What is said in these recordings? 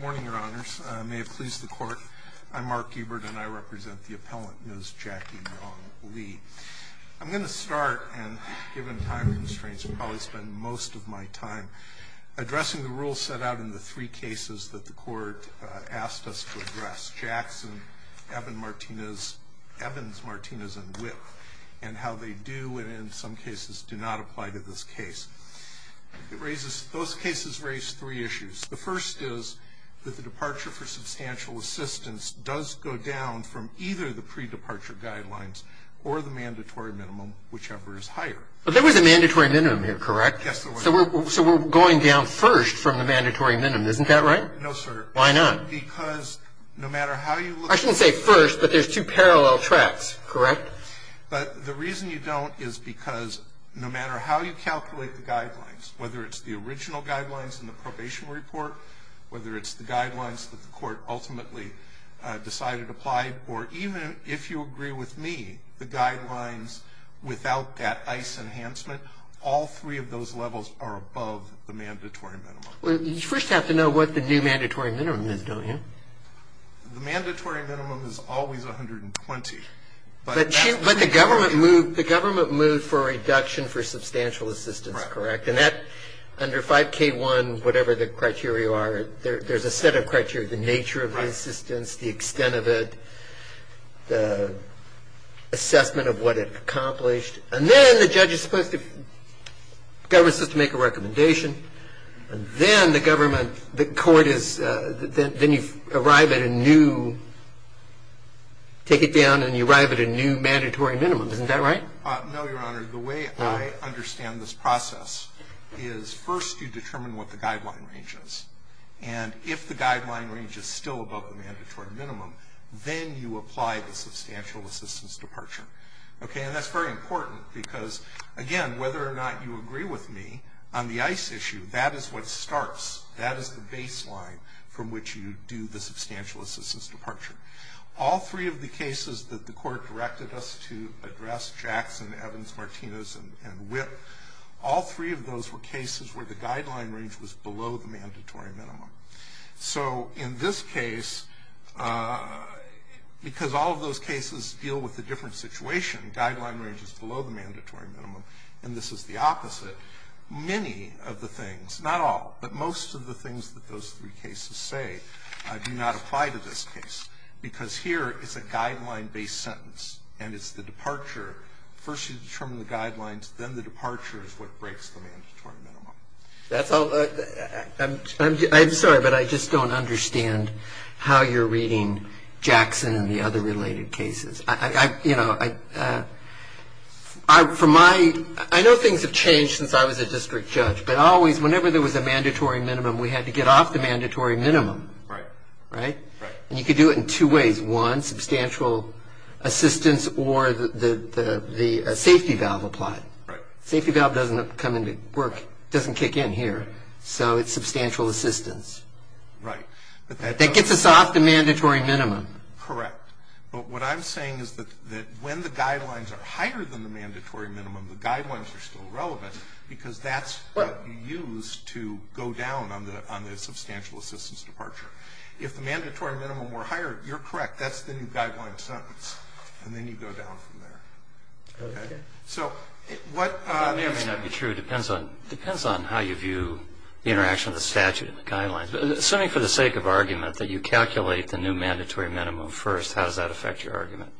Morning, your honors. May it please the court. I'm Mark Ebert and I represent the appellant, Ms. Jackie Leigh. I'm going to start, and given time constraints, I'll probably spend most of my time addressing the rules set out in the three cases that the court asked us to address. Jackson, Evans, Martinez, and Whipp, and how they do, and in some cases, do not apply to this case. Those cases raise three issues. The first is that the departure for substantial assistance does go down from either the pre-departure guidelines or the mandatory minimum, whichever is higher. But there was a mandatory minimum here, correct? Yes, there was. So we're going down first from the mandatory minimum, isn't that right? No, sir. Why not? Because no matter how you look at it. I shouldn't say first, but there's two parallel tracks, correct? But the reason you don't is because no matter how you calculate the guidelines, whether it's the original guidelines in the probation report, whether it's the guidelines that the court ultimately decided applied for, even if you agree with me, the guidelines without that ICE enhancement, all three of those levels are above the mandatory minimum. Well, you first have to know what the new mandatory minimum is, don't you? The mandatory minimum is always 120. But the government moved for a reduction for substantial assistance, correct? Right. And that, under 5K1, whatever the criteria are, there's a set of criteria, the nature of the assistance, the extent of it, the assessment of what it accomplished. And then the judge is supposed to – the government is supposed to make a recommendation, and then the government – the court is – then you arrive at a new – take it down and you arrive at a new mandatory minimum. Isn't that right? No, Your Honor. The way I understand this process is first you determine what the guideline range is. And if the guideline range is still above the mandatory minimum, then you apply the substantial assistance departure. Okay? And that's very important because, again, whether or not you agree with me on the ICE issue, that is what starts. That is the baseline from which you do the substantial assistance departure. All three of the cases that the court directed us to address, Jackson, Evans, Martinez, and Witt, all three of those were cases where the guideline range was below the mandatory minimum. So in this case, because all of those cases deal with a different situation, guideline range is below the mandatory minimum, and this is the opposite, many of the things, not all, but most of the things that those three cases say do not apply to this case. Because here it's a guideline-based sentence, and it's the departure. First you determine the guidelines, then the departure is what breaks the mandatory minimum. That's all. I'm sorry, but I just don't understand how you're reading Jackson and the other related cases. You know, I know things have changed since I was a district judge, but always whenever there was a mandatory minimum, we had to get off the mandatory minimum. Right. Right? Right. And you could do it in two ways. One, substantial assistance or the safety valve applied. Right. The safety valve doesn't come into work, doesn't kick in here, so it's substantial assistance. Right. That gets us off the mandatory minimum. Correct. But what I'm saying is that when the guidelines are higher than the mandatory minimum, the guidelines are still relevant because that's what you use to go down on the substantial assistance departure. If the mandatory minimum were higher, you're correct, that's the new guideline sentence, and then you go down from there. Okay. It may or may not be true. It depends on how you view the interaction of the statute and the guidelines. Assuming for the sake of argument that you calculate the new mandatory minimum first, how does that affect your argument?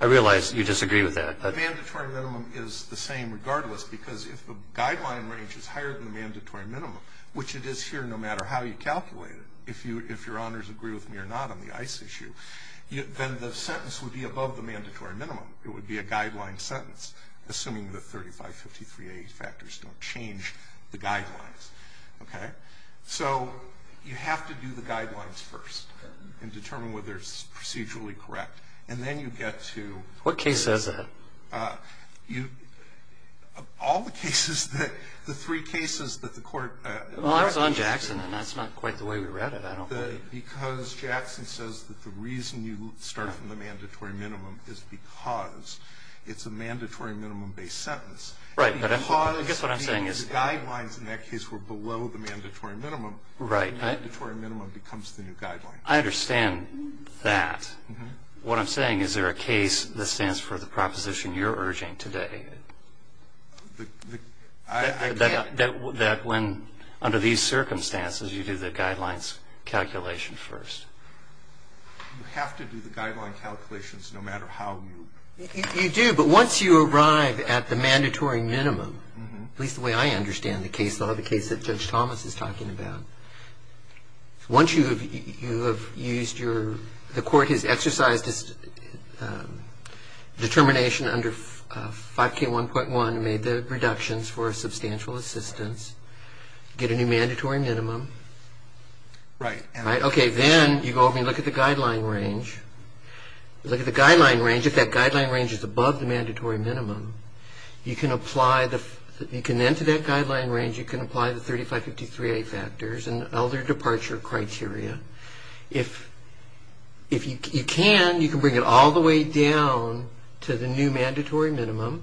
I realize you disagree with that. The mandatory minimum is the same regardless because if the guideline range is higher than the mandatory minimum, which it is here no matter how you calculate it, if your honors agree with me or not on the ICE issue, then the sentence would be above the mandatory minimum. It would be a guideline sentence, assuming the 3553A factors don't change the guidelines. Okay? So you have to do the guidelines first and determine whether it's procedurally correct, and then you get to... What case says that? All the cases that the three cases that the court... Well, I was on Jackson, and that's not quite the way we read it. Because Jackson says that the reason you start from the mandatory minimum is because it's a mandatory minimum-based sentence. Right, but I guess what I'm saying is... Because the guidelines in that case were below the mandatory minimum... Right. The mandatory minimum becomes the new guideline. I understand that. What I'm saying is there a case that stands for the proposition you're urging today... I can't... That when, under these circumstances, you do the guidelines calculation first. You have to do the guideline calculations no matter how you... You do, but once you arrive at the mandatory minimum, at least the way I understand the case law, the case that Judge Thomas is talking about, once you have used your... The court has exercised its determination under 5K1.1 and made the reductions for a substantial assistance, get a new mandatory minimum. Right. Okay, then you go over and look at the guideline range. Look at the guideline range. If that guideline range is above the mandatory minimum, you can apply the... You can enter that guideline range. You can apply the 3553A factors and other departure criteria. If you can, you can bring it all the way down to the new mandatory minimum,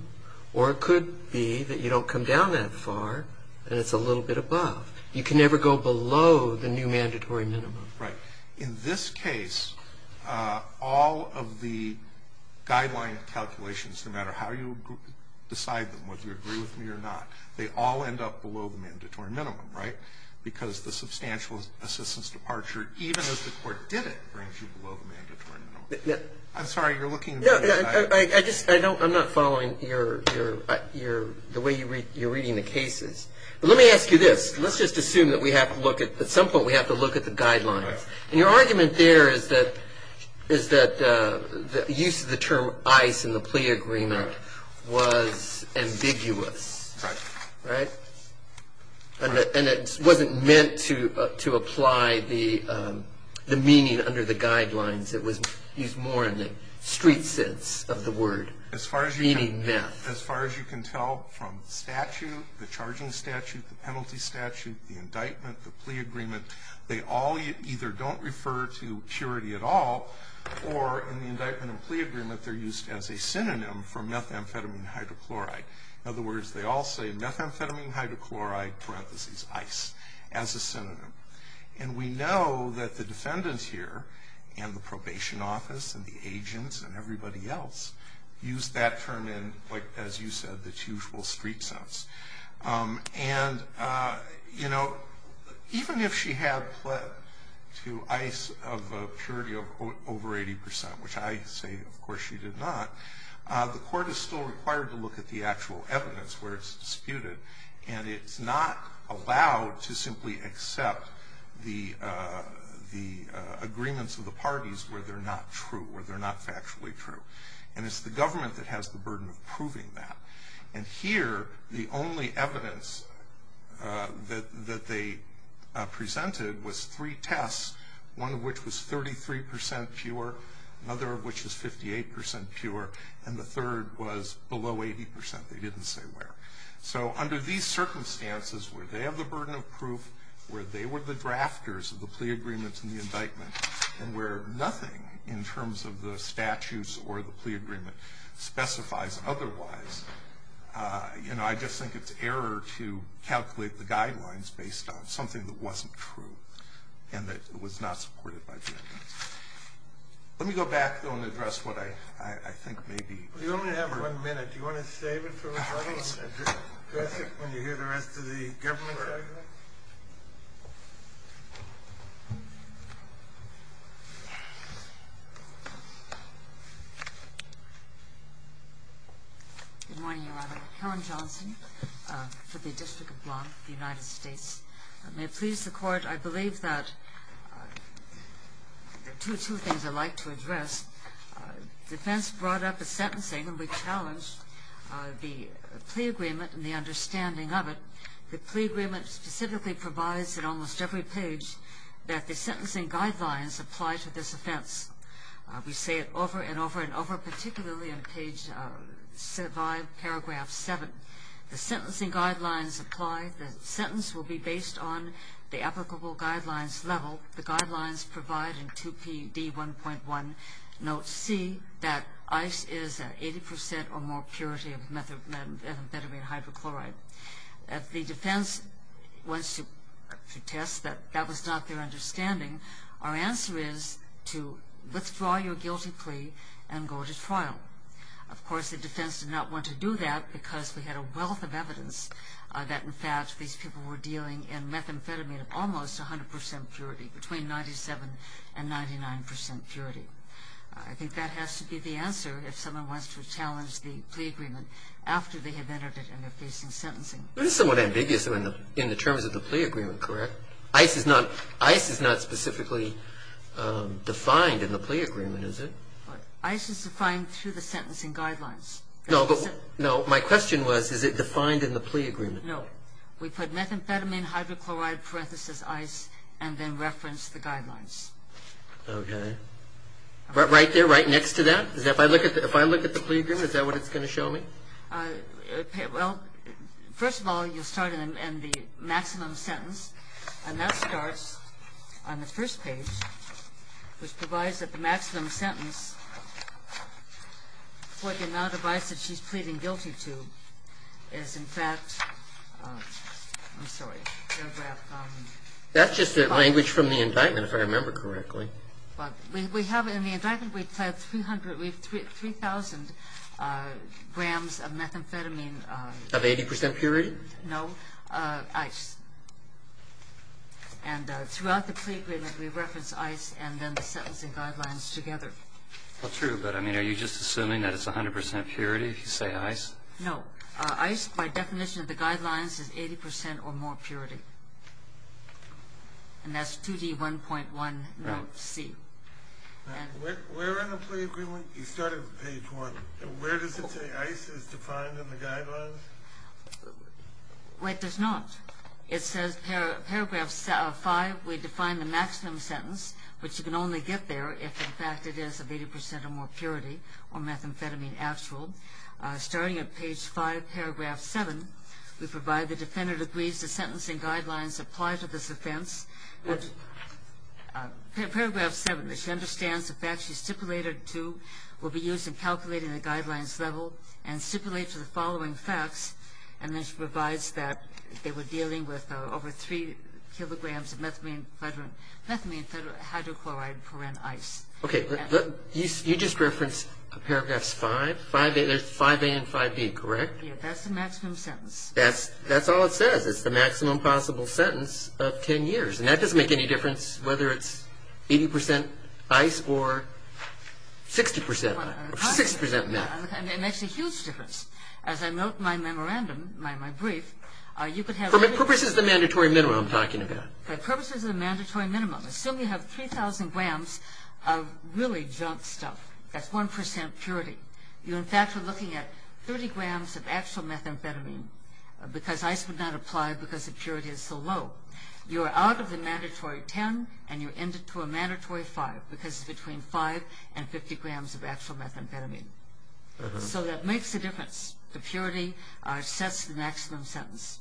or it could be that you don't come down that far and it's a little bit above. You can never go below the new mandatory minimum. Right. In this case, all of the guideline calculations, no matter how you decide them, whether you agree with me or not, they all end up below the mandatory minimum, right, because the substantial assistance departure, even if the court did it, brings you below the mandatory minimum. I'm sorry. You're looking... I'm not following the way you're reading the cases. But let me ask you this. Let's just assume that we have to look at... At some point, we have to look at the guidelines. And your argument there is that the use of the term ICE in the plea agreement was ambiguous. Right. Right? And it wasn't meant to apply the meaning under the guidelines. It was used more in the street sense of the word, meaning meth. As far as you can tell from the statute, the charging statute, the penalty statute, the indictment, the plea agreement, they all either don't refer to purity at all, or in the indictment and plea agreement, they're used as a synonym for methamphetamine hydrochloride. In other words, they all say methamphetamine hydrochloride, parentheses ICE, as a synonym. And we know that the defendants here and the probation office and the agents and everybody else used that term in, as you said, the usual street sense. And, you know, even if she had pled to ICE of a purity of over 80 percent, which I say of course she did not, the court is still required to look at the actual evidence where it's disputed. And it's not allowed to simply accept the agreements of the parties where they're not true, where they're not factually true. And it's the government that has the burden of proving that. And here, the only evidence that they presented was three tests, one of which was 33 percent pure, another of which was 58 percent pure, and the third was below 80 percent. They didn't say where. So under these circumstances, where they have the burden of proof, where they were the drafters of the plea agreements and the indictment, and where nothing in terms of the statutes or the plea agreement specifies otherwise, you know, I just think it's error to calculate the guidelines based on something that wasn't true and that was not supported by defendants. Let me go back, though, and address what I think may be. You only have one minute. Do you want to save it for a second and address it when you hear the rest of the government? Good morning, Your Honor. Karen Johnson for the District of Blanc, the United States. May it please the Court, I believe that there are two things I'd like to address. The defense brought up the sentencing and we challenged the plea agreement and the understanding of it. The plea agreement specifically provides at almost every page that the sentencing guidelines apply to this offense. We say it over and over and over, particularly on page 5, paragraph 7. The sentencing guidelines apply. The sentence will be based on the applicable guidelines level. The guidelines provide in 2PD1.1, note C, that ice is 80% or more purity of methamphetamine hydrochloride. If the defense wants to test that that was not their understanding, our answer is to withdraw your guilty plea and go to trial. Of course, the defense did not want to do that because we had a wealth of evidence that, in fact, these people were dealing in methamphetamine of almost 100% purity, between 97% and 99% purity. I think that has to be the answer if someone wants to challenge the plea agreement after they have entered it and are facing sentencing. It is somewhat ambiguous in the terms of the plea agreement, correct? Ice is not specifically defined in the plea agreement, is it? Ice is defined through the sentencing guidelines. No, but my question was, is it defined in the plea agreement? No. We put methamphetamine hydrochloride, parenthesis, ice, and then reference the guidelines. Okay. Right there, right next to that? If I look at the plea agreement, is that what it's going to show me? Well, first of all, you'll start in the maximum sentence, and that starts on the first page, which provides that the maximum sentence for the amount of ice that she's pleading guilty to is, in fact, I'm sorry. That's just the language from the indictment, if I remember correctly. We have in the indictment, we have 3,000 grams of methamphetamine. Of 80% purity? No, ice. And throughout the plea agreement, we reference ice and then the sentencing guidelines together. Well, true, but, I mean, are you just assuming that it's 100% purity if you say ice? No. Ice, by definition of the guidelines, is 80% or more purity. And that's 2D1.1, note C. Where in the plea agreement, you start at page 1, where does it say ice is defined in the guidelines? Well, it does not. It says paragraph 5, we define the maximum sentence, which you can only get there if, in fact, it is of 80% or more purity or methamphetamine actual. Starting at page 5, paragraph 7, we provide the defendant agrees to sentencing guidelines applied to this offense. Paragraph 7, that she understands the facts she's stipulated to will be used in calculating the guidelines level and stipulates the following facts. And then she provides that they were dealing with over 3 kilograms of methamphetamine, hydrochloride, chlorine, and ice. Okay. You just referenced paragraphs 5, 5A and 5B, correct? Yeah, that's the maximum sentence. That's all it says. It's the maximum possible sentence of 10 years. And that doesn't make any difference whether it's 80% ice or 60% meth. It makes a huge difference. As I note in my memorandum, in my brief, you could have... For purposes of the mandatory minimum I'm talking about. For purposes of the mandatory minimum. Assume you have 3,000 grams of really junk stuff. That's 1% purity. You, in fact, are looking at 30 grams of actual methamphetamine because ice would not apply because the purity is so low. You are out of the mandatory 10 and you're into a mandatory 5 because it's between 5 and 50 grams of actual methamphetamine. So that makes a difference. The purity sets the maximum sentence.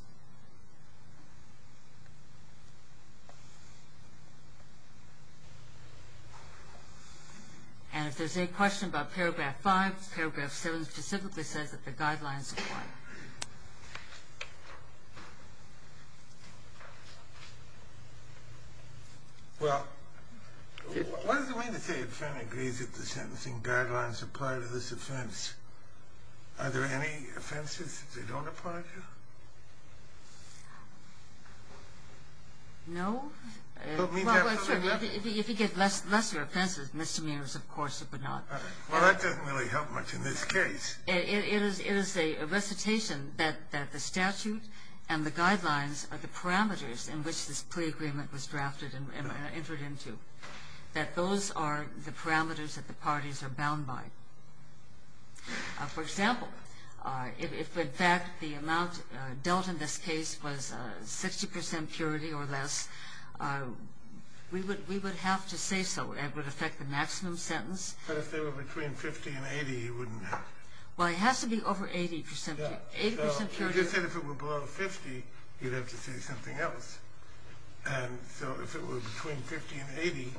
And if there's any question about paragraph 5, paragraph 7 specifically says that the guidelines apply. Well, what does it mean to say a defendant agrees that the sentencing guidelines apply to this offense? Are there any offenses that they don't apply to? No. Well, sure. If you get lesser offenses, misdemeanors, of course, it would not. Well, that doesn't really help much in this case. It is a recitation that the statute and the guidelines are the parameters in which this plea agreement was drafted and entered into. That those are the parameters that the parties are bound by. For example, if, in fact, the amount dealt in this case was 60% purity or less, we would have to say so. It would affect the maximum sentence. But if they were between 50 and 80, you wouldn't have to. Well, it has to be over 80% purity. You just said if it were below 50, you'd have to say something else. And so if it were between 50 and 80,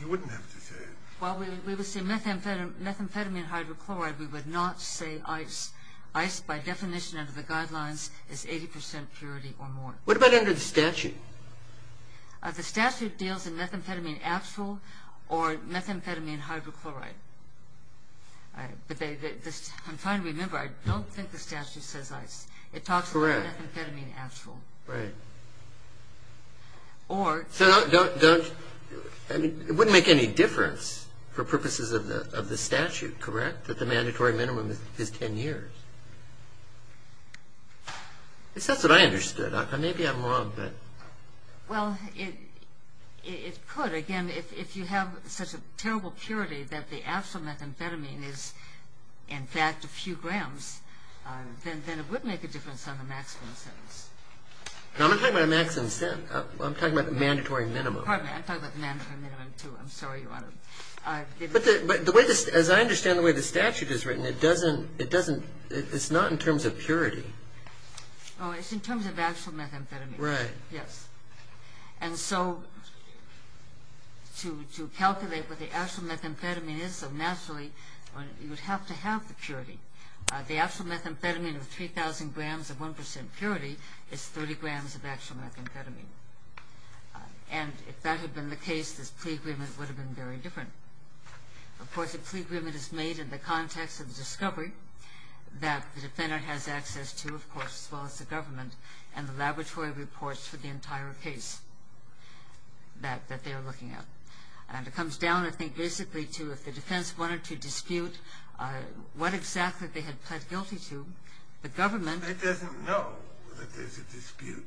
you wouldn't have to say it. Well, we would say methamphetamine hydrochloride. We would not say ice. Ice, by definition under the guidelines, is 80% purity or more. What about under the statute? The statute deals in methamphetamine acetyl or methamphetamine hydrochloride. I'm trying to remember. I don't think the statute says ice. It talks about methamphetamine acetyl. Correct. Right. Or... So don't... It wouldn't make any difference for purposes of the statute, correct, that the mandatory minimum is 10 years? I guess that's what I understood. Maybe I'm wrong, but... Well, it could. Again, if you have such a terrible purity that the acetyl methamphetamine is, in fact, a few grams, then it would make a difference on the maximum sentence. I'm not talking about a maximum sentence. I'm talking about the mandatory minimum. Pardon me. I'm talking about the mandatory minimum, too. I'm sorry, Your Honor. But the way this... As I understand the way the statute is written, it doesn't... It's not in terms of purity. Oh, it's in terms of acetyl methamphetamine. Right. Yes. And so to calculate what the acetyl methamphetamine is so naturally, you would have to have the purity. The acetyl methamphetamine of 3,000 grams of 1% purity is 30 grams of acetyl methamphetamine. And if that had been the case, this plea agreement would have been very different. Of course, a plea agreement is made in the context of the discovery that the defendant has access to, of course, as well as the government and the laboratory reports for the entire case that they are looking at. And it comes down, I think, basically to if the defense wanted to dispute what exactly they had pled guilty to, the government... I know that there's a dispute.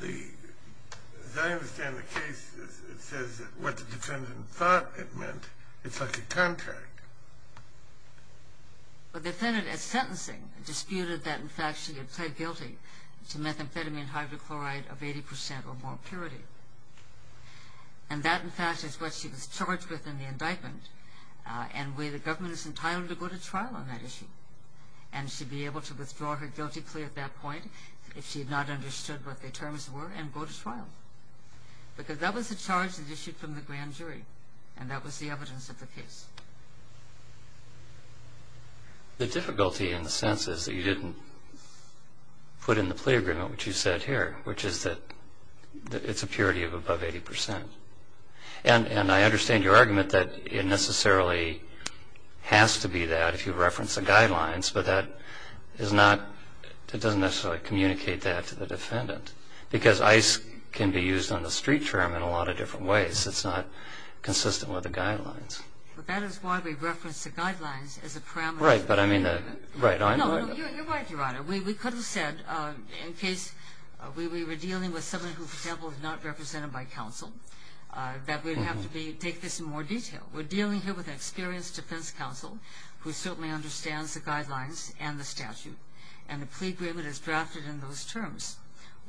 The... As I understand the case, it says what the defendant thought it meant. It's like a contract. The defendant, at sentencing, disputed that, in fact, she had pled guilty to methamphetamine hydrochloride of 80% or more purity. And that, in fact, is what she was charged with in the indictment. And the government is entitled to go to trial on that issue. And she'd be able to withdraw her guilty plea at that point if she had not understood what the terms were and go to trial. Because that was the charge that issued from the grand jury. And that was the evidence of the case. The difficulty, in a sense, is that you didn't put in the plea agreement what you said here, which is that it's a purity of above 80%. And I understand your argument that it necessarily has to be that if you reference the guidelines, but that is not... It doesn't necessarily communicate that to the defendant. Because ice can be used on the street term in a lot of different ways. It's not consistent with the guidelines. But that is why we reference the guidelines as a parameter... Right, but I mean the... No, no, you're right, Your Honor. We could have said, in case we were dealing with someone who, for example, is not represented by counsel, that we'd have to take this in more detail. We're dealing here with an experienced defense counsel who certainly understands the guidelines and the statute. And the plea agreement is drafted in those terms.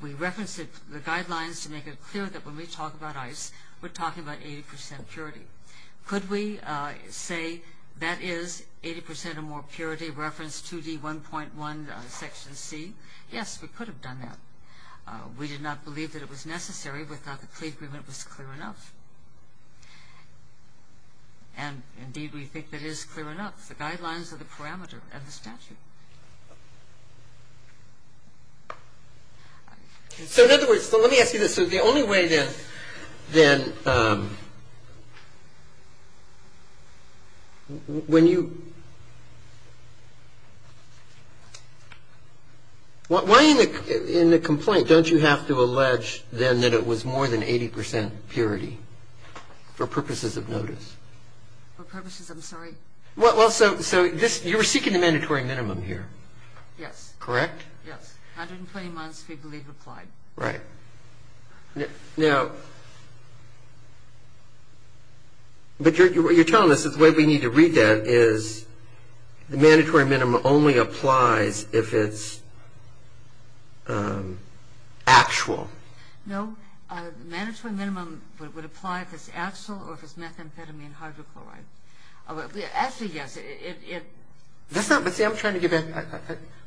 We reference the guidelines to make it clear that when we talk about ice, we're talking about 80% purity. Could we say that is 80% or more purity referenced 2D1.1 Section C? Yes, we could have done that. We did not believe that it was necessary. We thought the plea agreement was clear enough. And, indeed, we think that is clear enough. The guidelines are the parameter of the statute. So, in other words, let me ask you this. So the only way, then, when you... Why in the complaint don't you have to allege, then, that it was more than 80% purity for purposes of notice? For purposes of notice, I'm sorry? Well, so you were seeking the mandatory minimum. Yes. Correct? Yes. 120 months, we believe, applied. Right. Now, but you're telling us that the way we need to read that is the mandatory minimum only applies if it's actual. No. The mandatory minimum would apply if it's actual or if it's methamphetamine hydrochloride. Actually, yes. That's not what I'm trying to get at.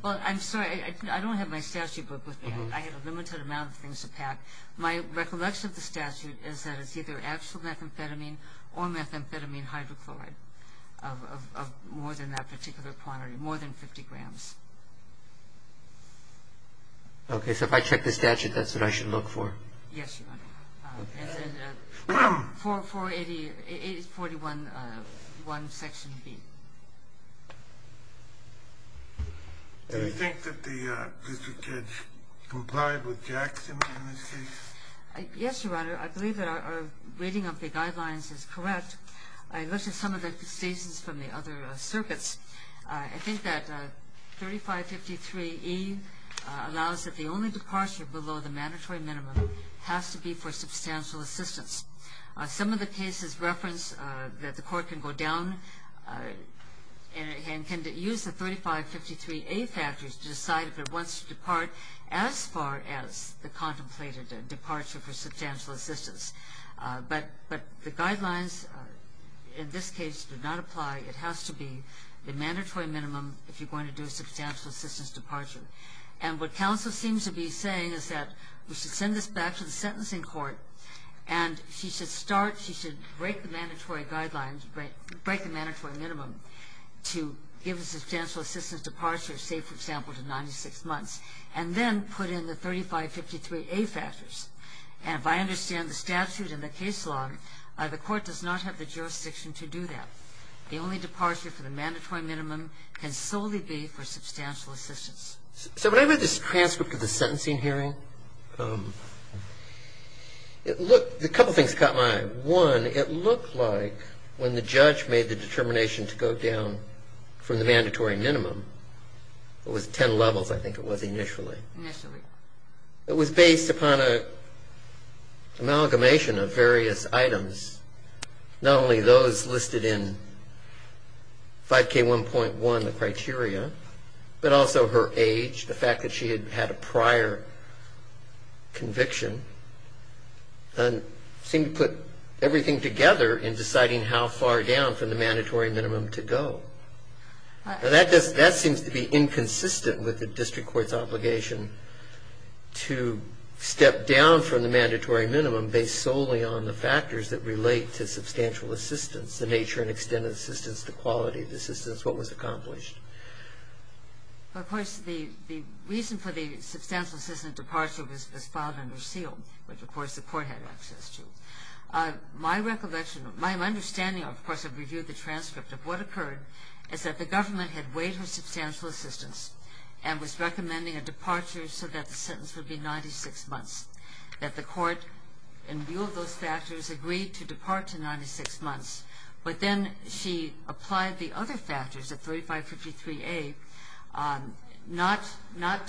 Well, I'm sorry. I don't have my statute book with me. I have a limited amount of things to pack. My recollection of the statute is that it's either actual methamphetamine or methamphetamine hydrochloride, of more than that particular quantity, more than 50 grams. Okay. So if I check the statute, that's what I should look for? Yes, Your Honor. And then 480-41-1, Section B. Do you think that the district judge complied with Jackson in this case? Yes, Your Honor. I believe that our reading of the guidelines is correct. I looked at some of the decisions from the other circuits. I think that 3553E allows that the only departure below the mandatory minimum has to be for substantial assistance. Some of the cases reference that the court can go down and can use the 3553A factors to decide if it wants to depart as far as the contemplated departure for substantial assistance. But the guidelines in this case do not apply. It has to be the mandatory minimum if you're going to do a substantial assistance departure. And what counsel seems to be saying is that we should send this back to the sentencing court and she should start, she should break the mandatory guidelines, break the mandatory minimum to give a substantial assistance departure, say, for example, to 96 months, and then put in the 3553A factors. And if I understand the statute and the case law, the court does not have the jurisdiction to do that. The only departure for the mandatory minimum can solely be for substantial assistance. So when I read this transcript of the sentencing hearing, it looked, a couple things caught my eye. One, it looked like when the judge made the determination to go down from the mandatory minimum, it was ten levels I think it was initially. Initially. It was based upon an amalgamation of various items, not only those listed in 5K1.1, the criteria, but also her age, the fact that she had had a prior conviction, and seemed to put everything together in deciding how far down from the mandatory minimum to go. Now, that seems to be inconsistent with the district court's obligation to step down from the mandatory minimum based solely on the factors that relate to substantial assistance, the nature and extent of assistance, the quality of assistance, what was accomplished. Of course, the reason for the substantial assistance departure was filed under seal, which of course the court had access to. My recollection, my understanding, of course, of review of the transcript of what occurred, is that the government had weighed her substantial assistance and was recommending a departure so that the sentence would be 96 months. That the court, in view of those factors, agreed to depart to 96 months. But then she applied the other factors, the 3553A, not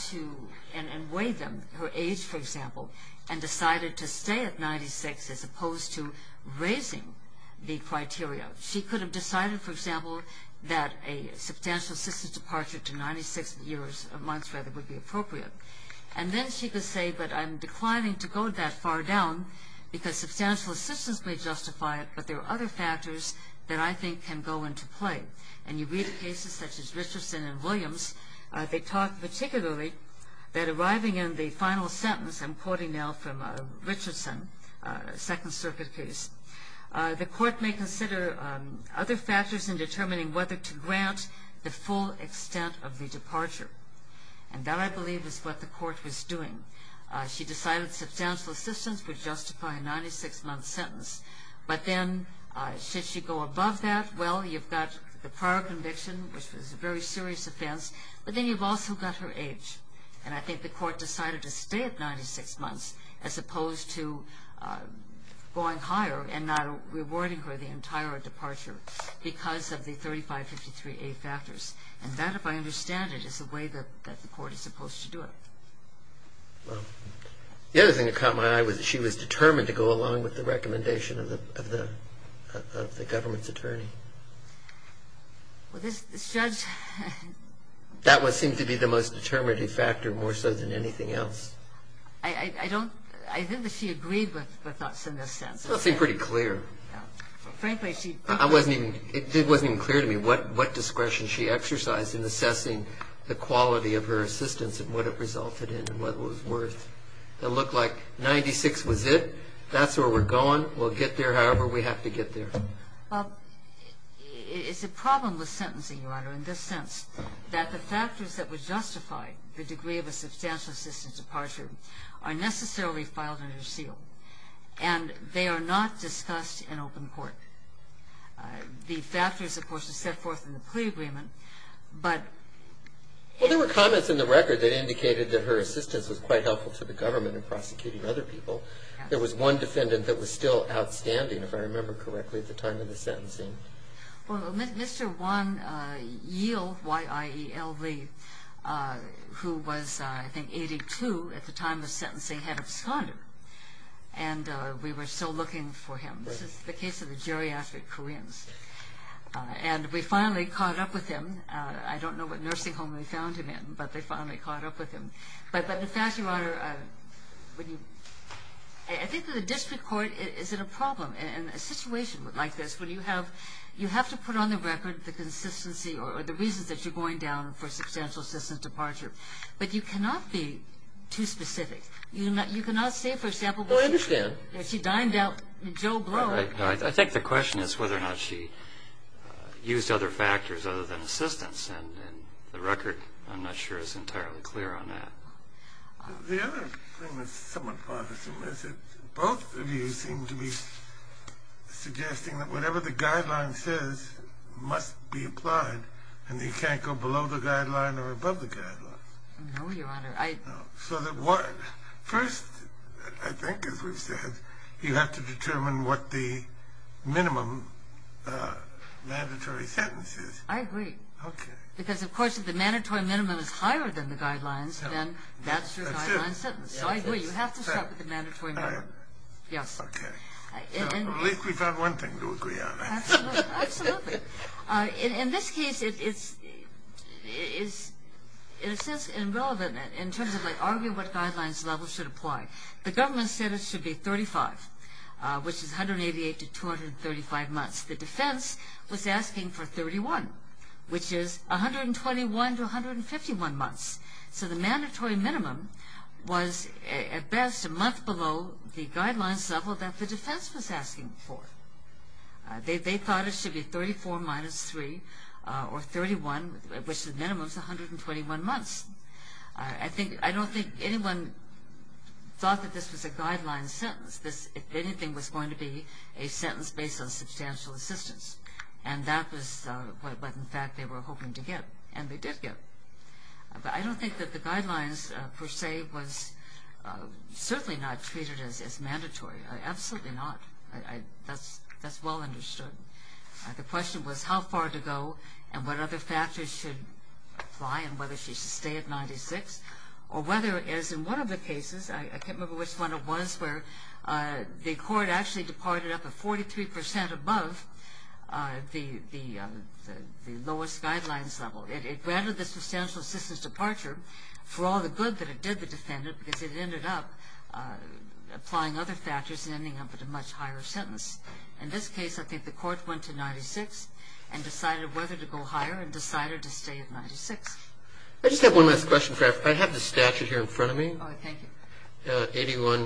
to, and weighed them, her age, for example, and decided to stay at 96 as opposed to raising the criteria. She could have decided, for example, that a substantial assistance departure to 96 months would be appropriate. And then she could say, but I'm declining to go that far down because substantial assistance may justify it, but there are other factors that I think can go into play. They talk particularly that arriving in the final sentence, I'm quoting now from Richardson, a Second Circuit case, the court may consider other factors in determining whether to grant the full extent of the departure. And that, I believe, is what the court was doing. She decided substantial assistance would justify a 96-month sentence. But then, should she go above that? Well, you've got the prior conviction, which was a very serious offense, but then you've also got her age. And I think the court decided to stay at 96 months as opposed to going higher and not rewarding her the entire departure because of the 3553A factors. And that, if I understand it, is the way that the court is supposed to do it. Well, the other thing that caught my eye was that she was determined to go along with the recommendation of the government's attorney. Well, this judge... That seemed to be the most determinative factor more so than anything else. I don't... I think that she agreed with us in this sense. Well, it seemed pretty clear. Frankly, she... It wasn't even clear to me what discretion she exercised in assessing the quality of her assistance and what it resulted in and what it was worth. It looked like 96 was it. That's where we're going. We'll get there however we have to get there. Well, it's a problem with sentencing, Your Honor, in this sense, that the factors that would justify the degree of a substantial assistance departure are necessarily filed under seal. And they are not discussed in open court. The factors, of course, are set forth in the plea agreement, but... Well, there were comments in the record that indicated that her assistance was quite helpful to the government in prosecuting other people. There was one defendant that was still outstanding, if I remember correctly, at the time of the sentencing. Well, Mr. Won Yiel, Y-I-E-L-L-E, who was, I think, 82 at the time of sentencing, had absconded. And we were still looking for him. This is the case of the geriatric Koreans. And we finally caught up with him. I don't know what nursing home we found him in, but they finally caught up with him. But, Your Honor, I think that the district court is in a problem in a situation like this when you have to put on the record the consistency or the reasons that you're going down for a substantial assistance departure. But you cannot be too specific. You cannot say, for example... Oh, I understand. When she dined out in Joe Blow... I think the question is whether or not she used other factors other than assistance. And the record, I'm not sure, is entirely clear on that. The other thing that's somewhat bothersome is that both of you seem to be suggesting that whatever the guideline says must be applied and you can't go below the guideline or above the guideline. No, Your Honor. First, I think, as we've said, you have to determine what the minimum mandatory sentence is. I agree. Okay. Because, of course, if the mandatory minimum is higher than the guidelines, then that's your guideline sentence. So I agree. You have to stop at the mandatory minimum. Yes. Okay. At least we found one thing to agree on. Absolutely. In this case, it's, in a sense, irrelevant in terms of, like, argue what guidelines level should apply. The government said it should be 35, which is 188 to 235 months. The defense was asking for 31, which is 121 to 151 months. So the mandatory minimum was, at best, a month below the guidelines level that the defense was asking for. They thought it should be 34 minus 3, or 31, which at minimum is 121 months. I don't think anyone thought that this was a guideline sentence. If anything, it was going to be a sentence based on substantial assistance, and that was what, in fact, they were hoping to get, and they did get. But I don't think that the guidelines, per se, was certainly not treated as mandatory. Absolutely not. That's well understood. The question was how far to go and what other factors should apply and whether she should stay at 96, or whether, as in one of the cases, I can't remember which one it was, where the court actually departed up at 43% above the lowest guidelines level. It granted the substantial assistance departure for all the good that it did the defendant because it ended up applying other factors and ending up at a much higher sentence. In this case, I think the court went to 96 and decided whether to go higher and decided to stay at 96. I just have one last question. I have the statute here in front of me. Thank you.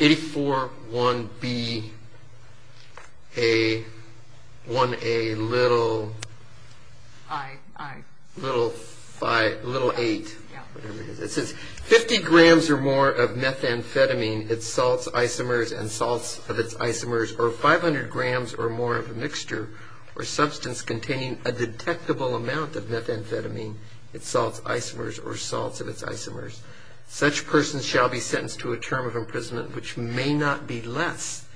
84-1-b-a-1-a-little-8. It says, 50 grams or more of methamphetamine, its salts, isomers, and salts of its isomers, or 500 grams or more of a mixture or substance containing a detectable amount of methamphetamine, its salts, isomers, or salts of its isomers. Such person shall be sentenced to a term of imprisonment, which may not be less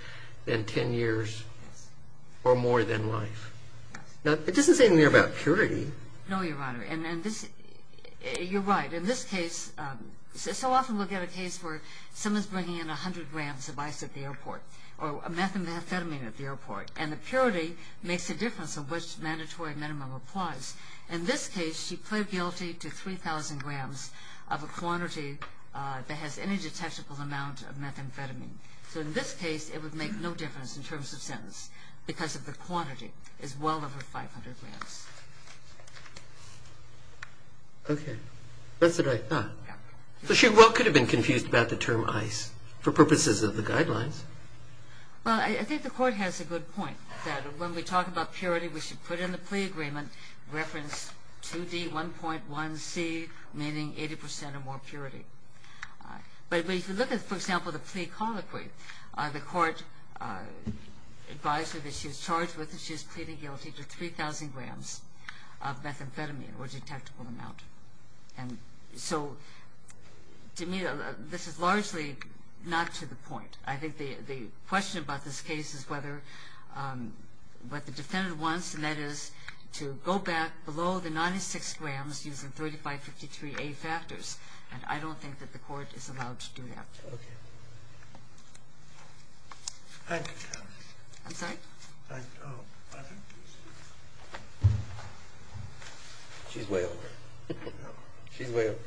than 10 years or more than life. It doesn't say anything about purity. No, Your Honor. You're right. In this case, so often we'll get a case where someone's bringing in 100 grams of ice at the airport or methamphetamine at the airport, and the purity makes a difference of which mandatory minimum applies. In this case, she pled guilty to 3,000 grams of a quantity that has any detectable amount of methamphetamine. So in this case, it would make no difference in terms of sentence because of the quantity is well over 500 grams. Okay. That's what I thought. So she well could have been confused about the term ice for purposes of the guidelines. Well, I think the Court has a good point that when we talk about purity, we should put in the plea agreement reference 2D1.1C, meaning 80% or more purity. But if you look at, for example, the plea colloquy, the Court advised her that she was charged with that she was pleading guilty to 3,000 grams of methamphetamine or detectable amount. And so to me, this is largely not to the point. I think the question about this case is whether what the defendant wants, and that is to go back below the 96 grams using 3553A factors. And I don't think that the Court is allowed to do that. Okay. Thank you, counsel. I'm sorry? Oh, I didn't hear you. She's way over. No. She's way over.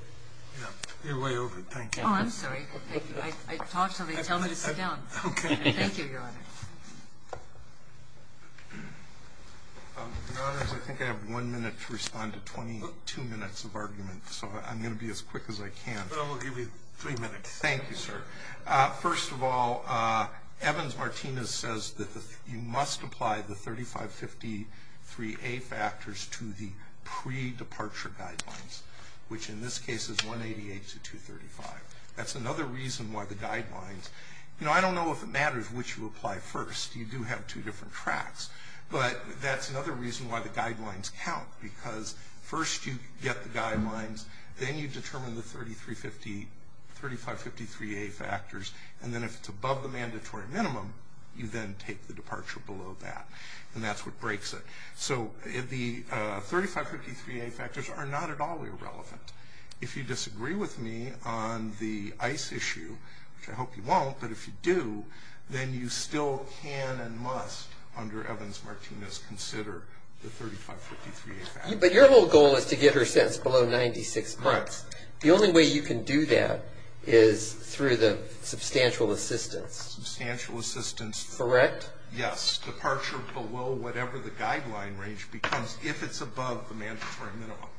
Yeah, you're way over. Thank you. Oh, I'm sorry. I talked something. Tell me to sit down. Okay. Thank you, Your Honor. Your Honors, I think I have one minute to respond to 22 minutes of argument, so I'm going to be as quick as I can. Well, we'll give you three minutes. Thank you, sir. First of all, Evans-Martinez says that you must apply the 3553A factors to the pre-departure guidelines, which in this case is 188 to 235. That's another reason why the guidelines. You know, I don't know if it matters which you apply first. You do have two different tracks. But that's another reason why the guidelines count, because first you get the guidelines, then you determine the 3553A factors, and then if it's above the mandatory minimum, you then take the departure below that, and that's what breaks it. So the 3553A factors are not at all irrelevant. If you disagree with me on the ICE issue, which I hope you won't, but if you do, then you still can and must, under Evans-Martinez, consider the 3553A factors. But your whole goal is to get her sentenced below 96 months. Correct. The only way you can do that is through the substantial assistance. Substantial assistance. Correct? Yes, departure below whatever the guideline range becomes if it's above the mandatory minimum.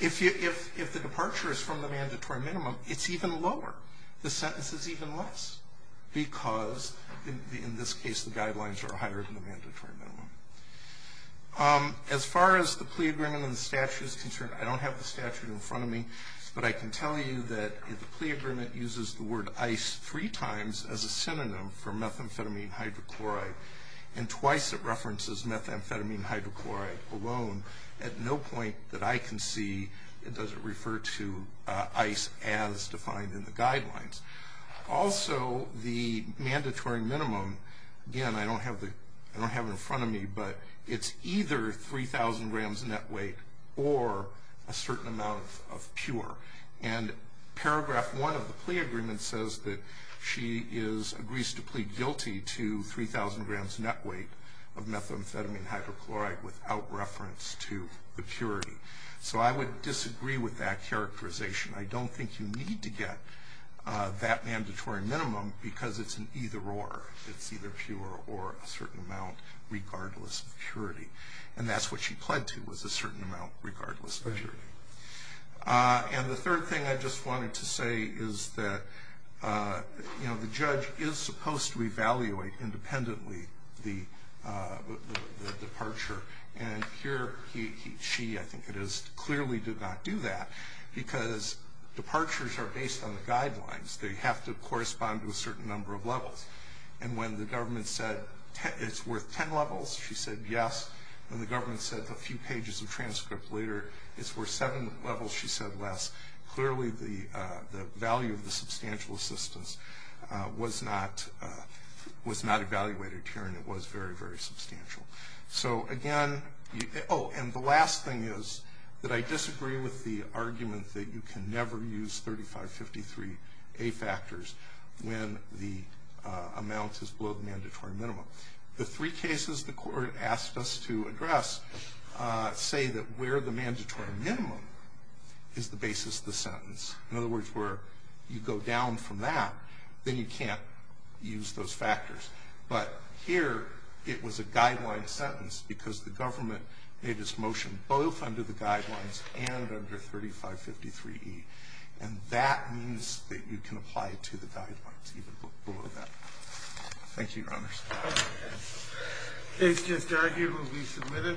If the departure is from the mandatory minimum, it's even lower. The sentence is even less because, in this case, the guidelines are higher than the mandatory minimum. As far as the plea agreement and the statute is concerned, I don't have the statute in front of me, but I can tell you that the plea agreement uses the word ICE three times as a synonym for methamphetamine hydrochloride, and twice it references methamphetamine hydrochloride alone. At no point that I can see does it refer to ICE as defined in the guidelines. Also, the mandatory minimum, again, I don't have it in front of me, but it's either 3,000 grams net weight or a certain amount of pure. And paragraph one of the plea agreement says that she agrees to plead guilty to 3,000 grams net weight of methamphetamine hydrochloride without reference to the purity. So I would disagree with that characterization. I don't think you need to get that mandatory minimum because it's an either or. It's either pure or a certain amount regardless of purity. And that's what she pled to was a certain amount regardless of purity. And the third thing I just wanted to say is that, you know, the judge is supposed to evaluate independently the departure. And here she, I think it is, clearly did not do that because departures are based on the guidelines. They have to correspond to a certain number of levels. And when the government said it's worth 10 levels, she said yes. When the government said a few pages of transcript later, it's worth seven levels, she said less. Clearly the value of the substantial assistance was not evaluated here, and it was very, very substantial. So, again, oh, and the last thing is that I disagree with the argument that you can never use 3553A factors when the amount is below the mandatory minimum. The three cases the court asked us to address say that where the mandatory minimum is the basis of the sentence. In other words, where you go down from that, then you can't use those factors. But here it was a guideline sentence because the government made its motion both under the guidelines and under 3553E. And that means that you can apply it to the guidelines even below that. Thank you, Your Honors. Case just argued will be submitted.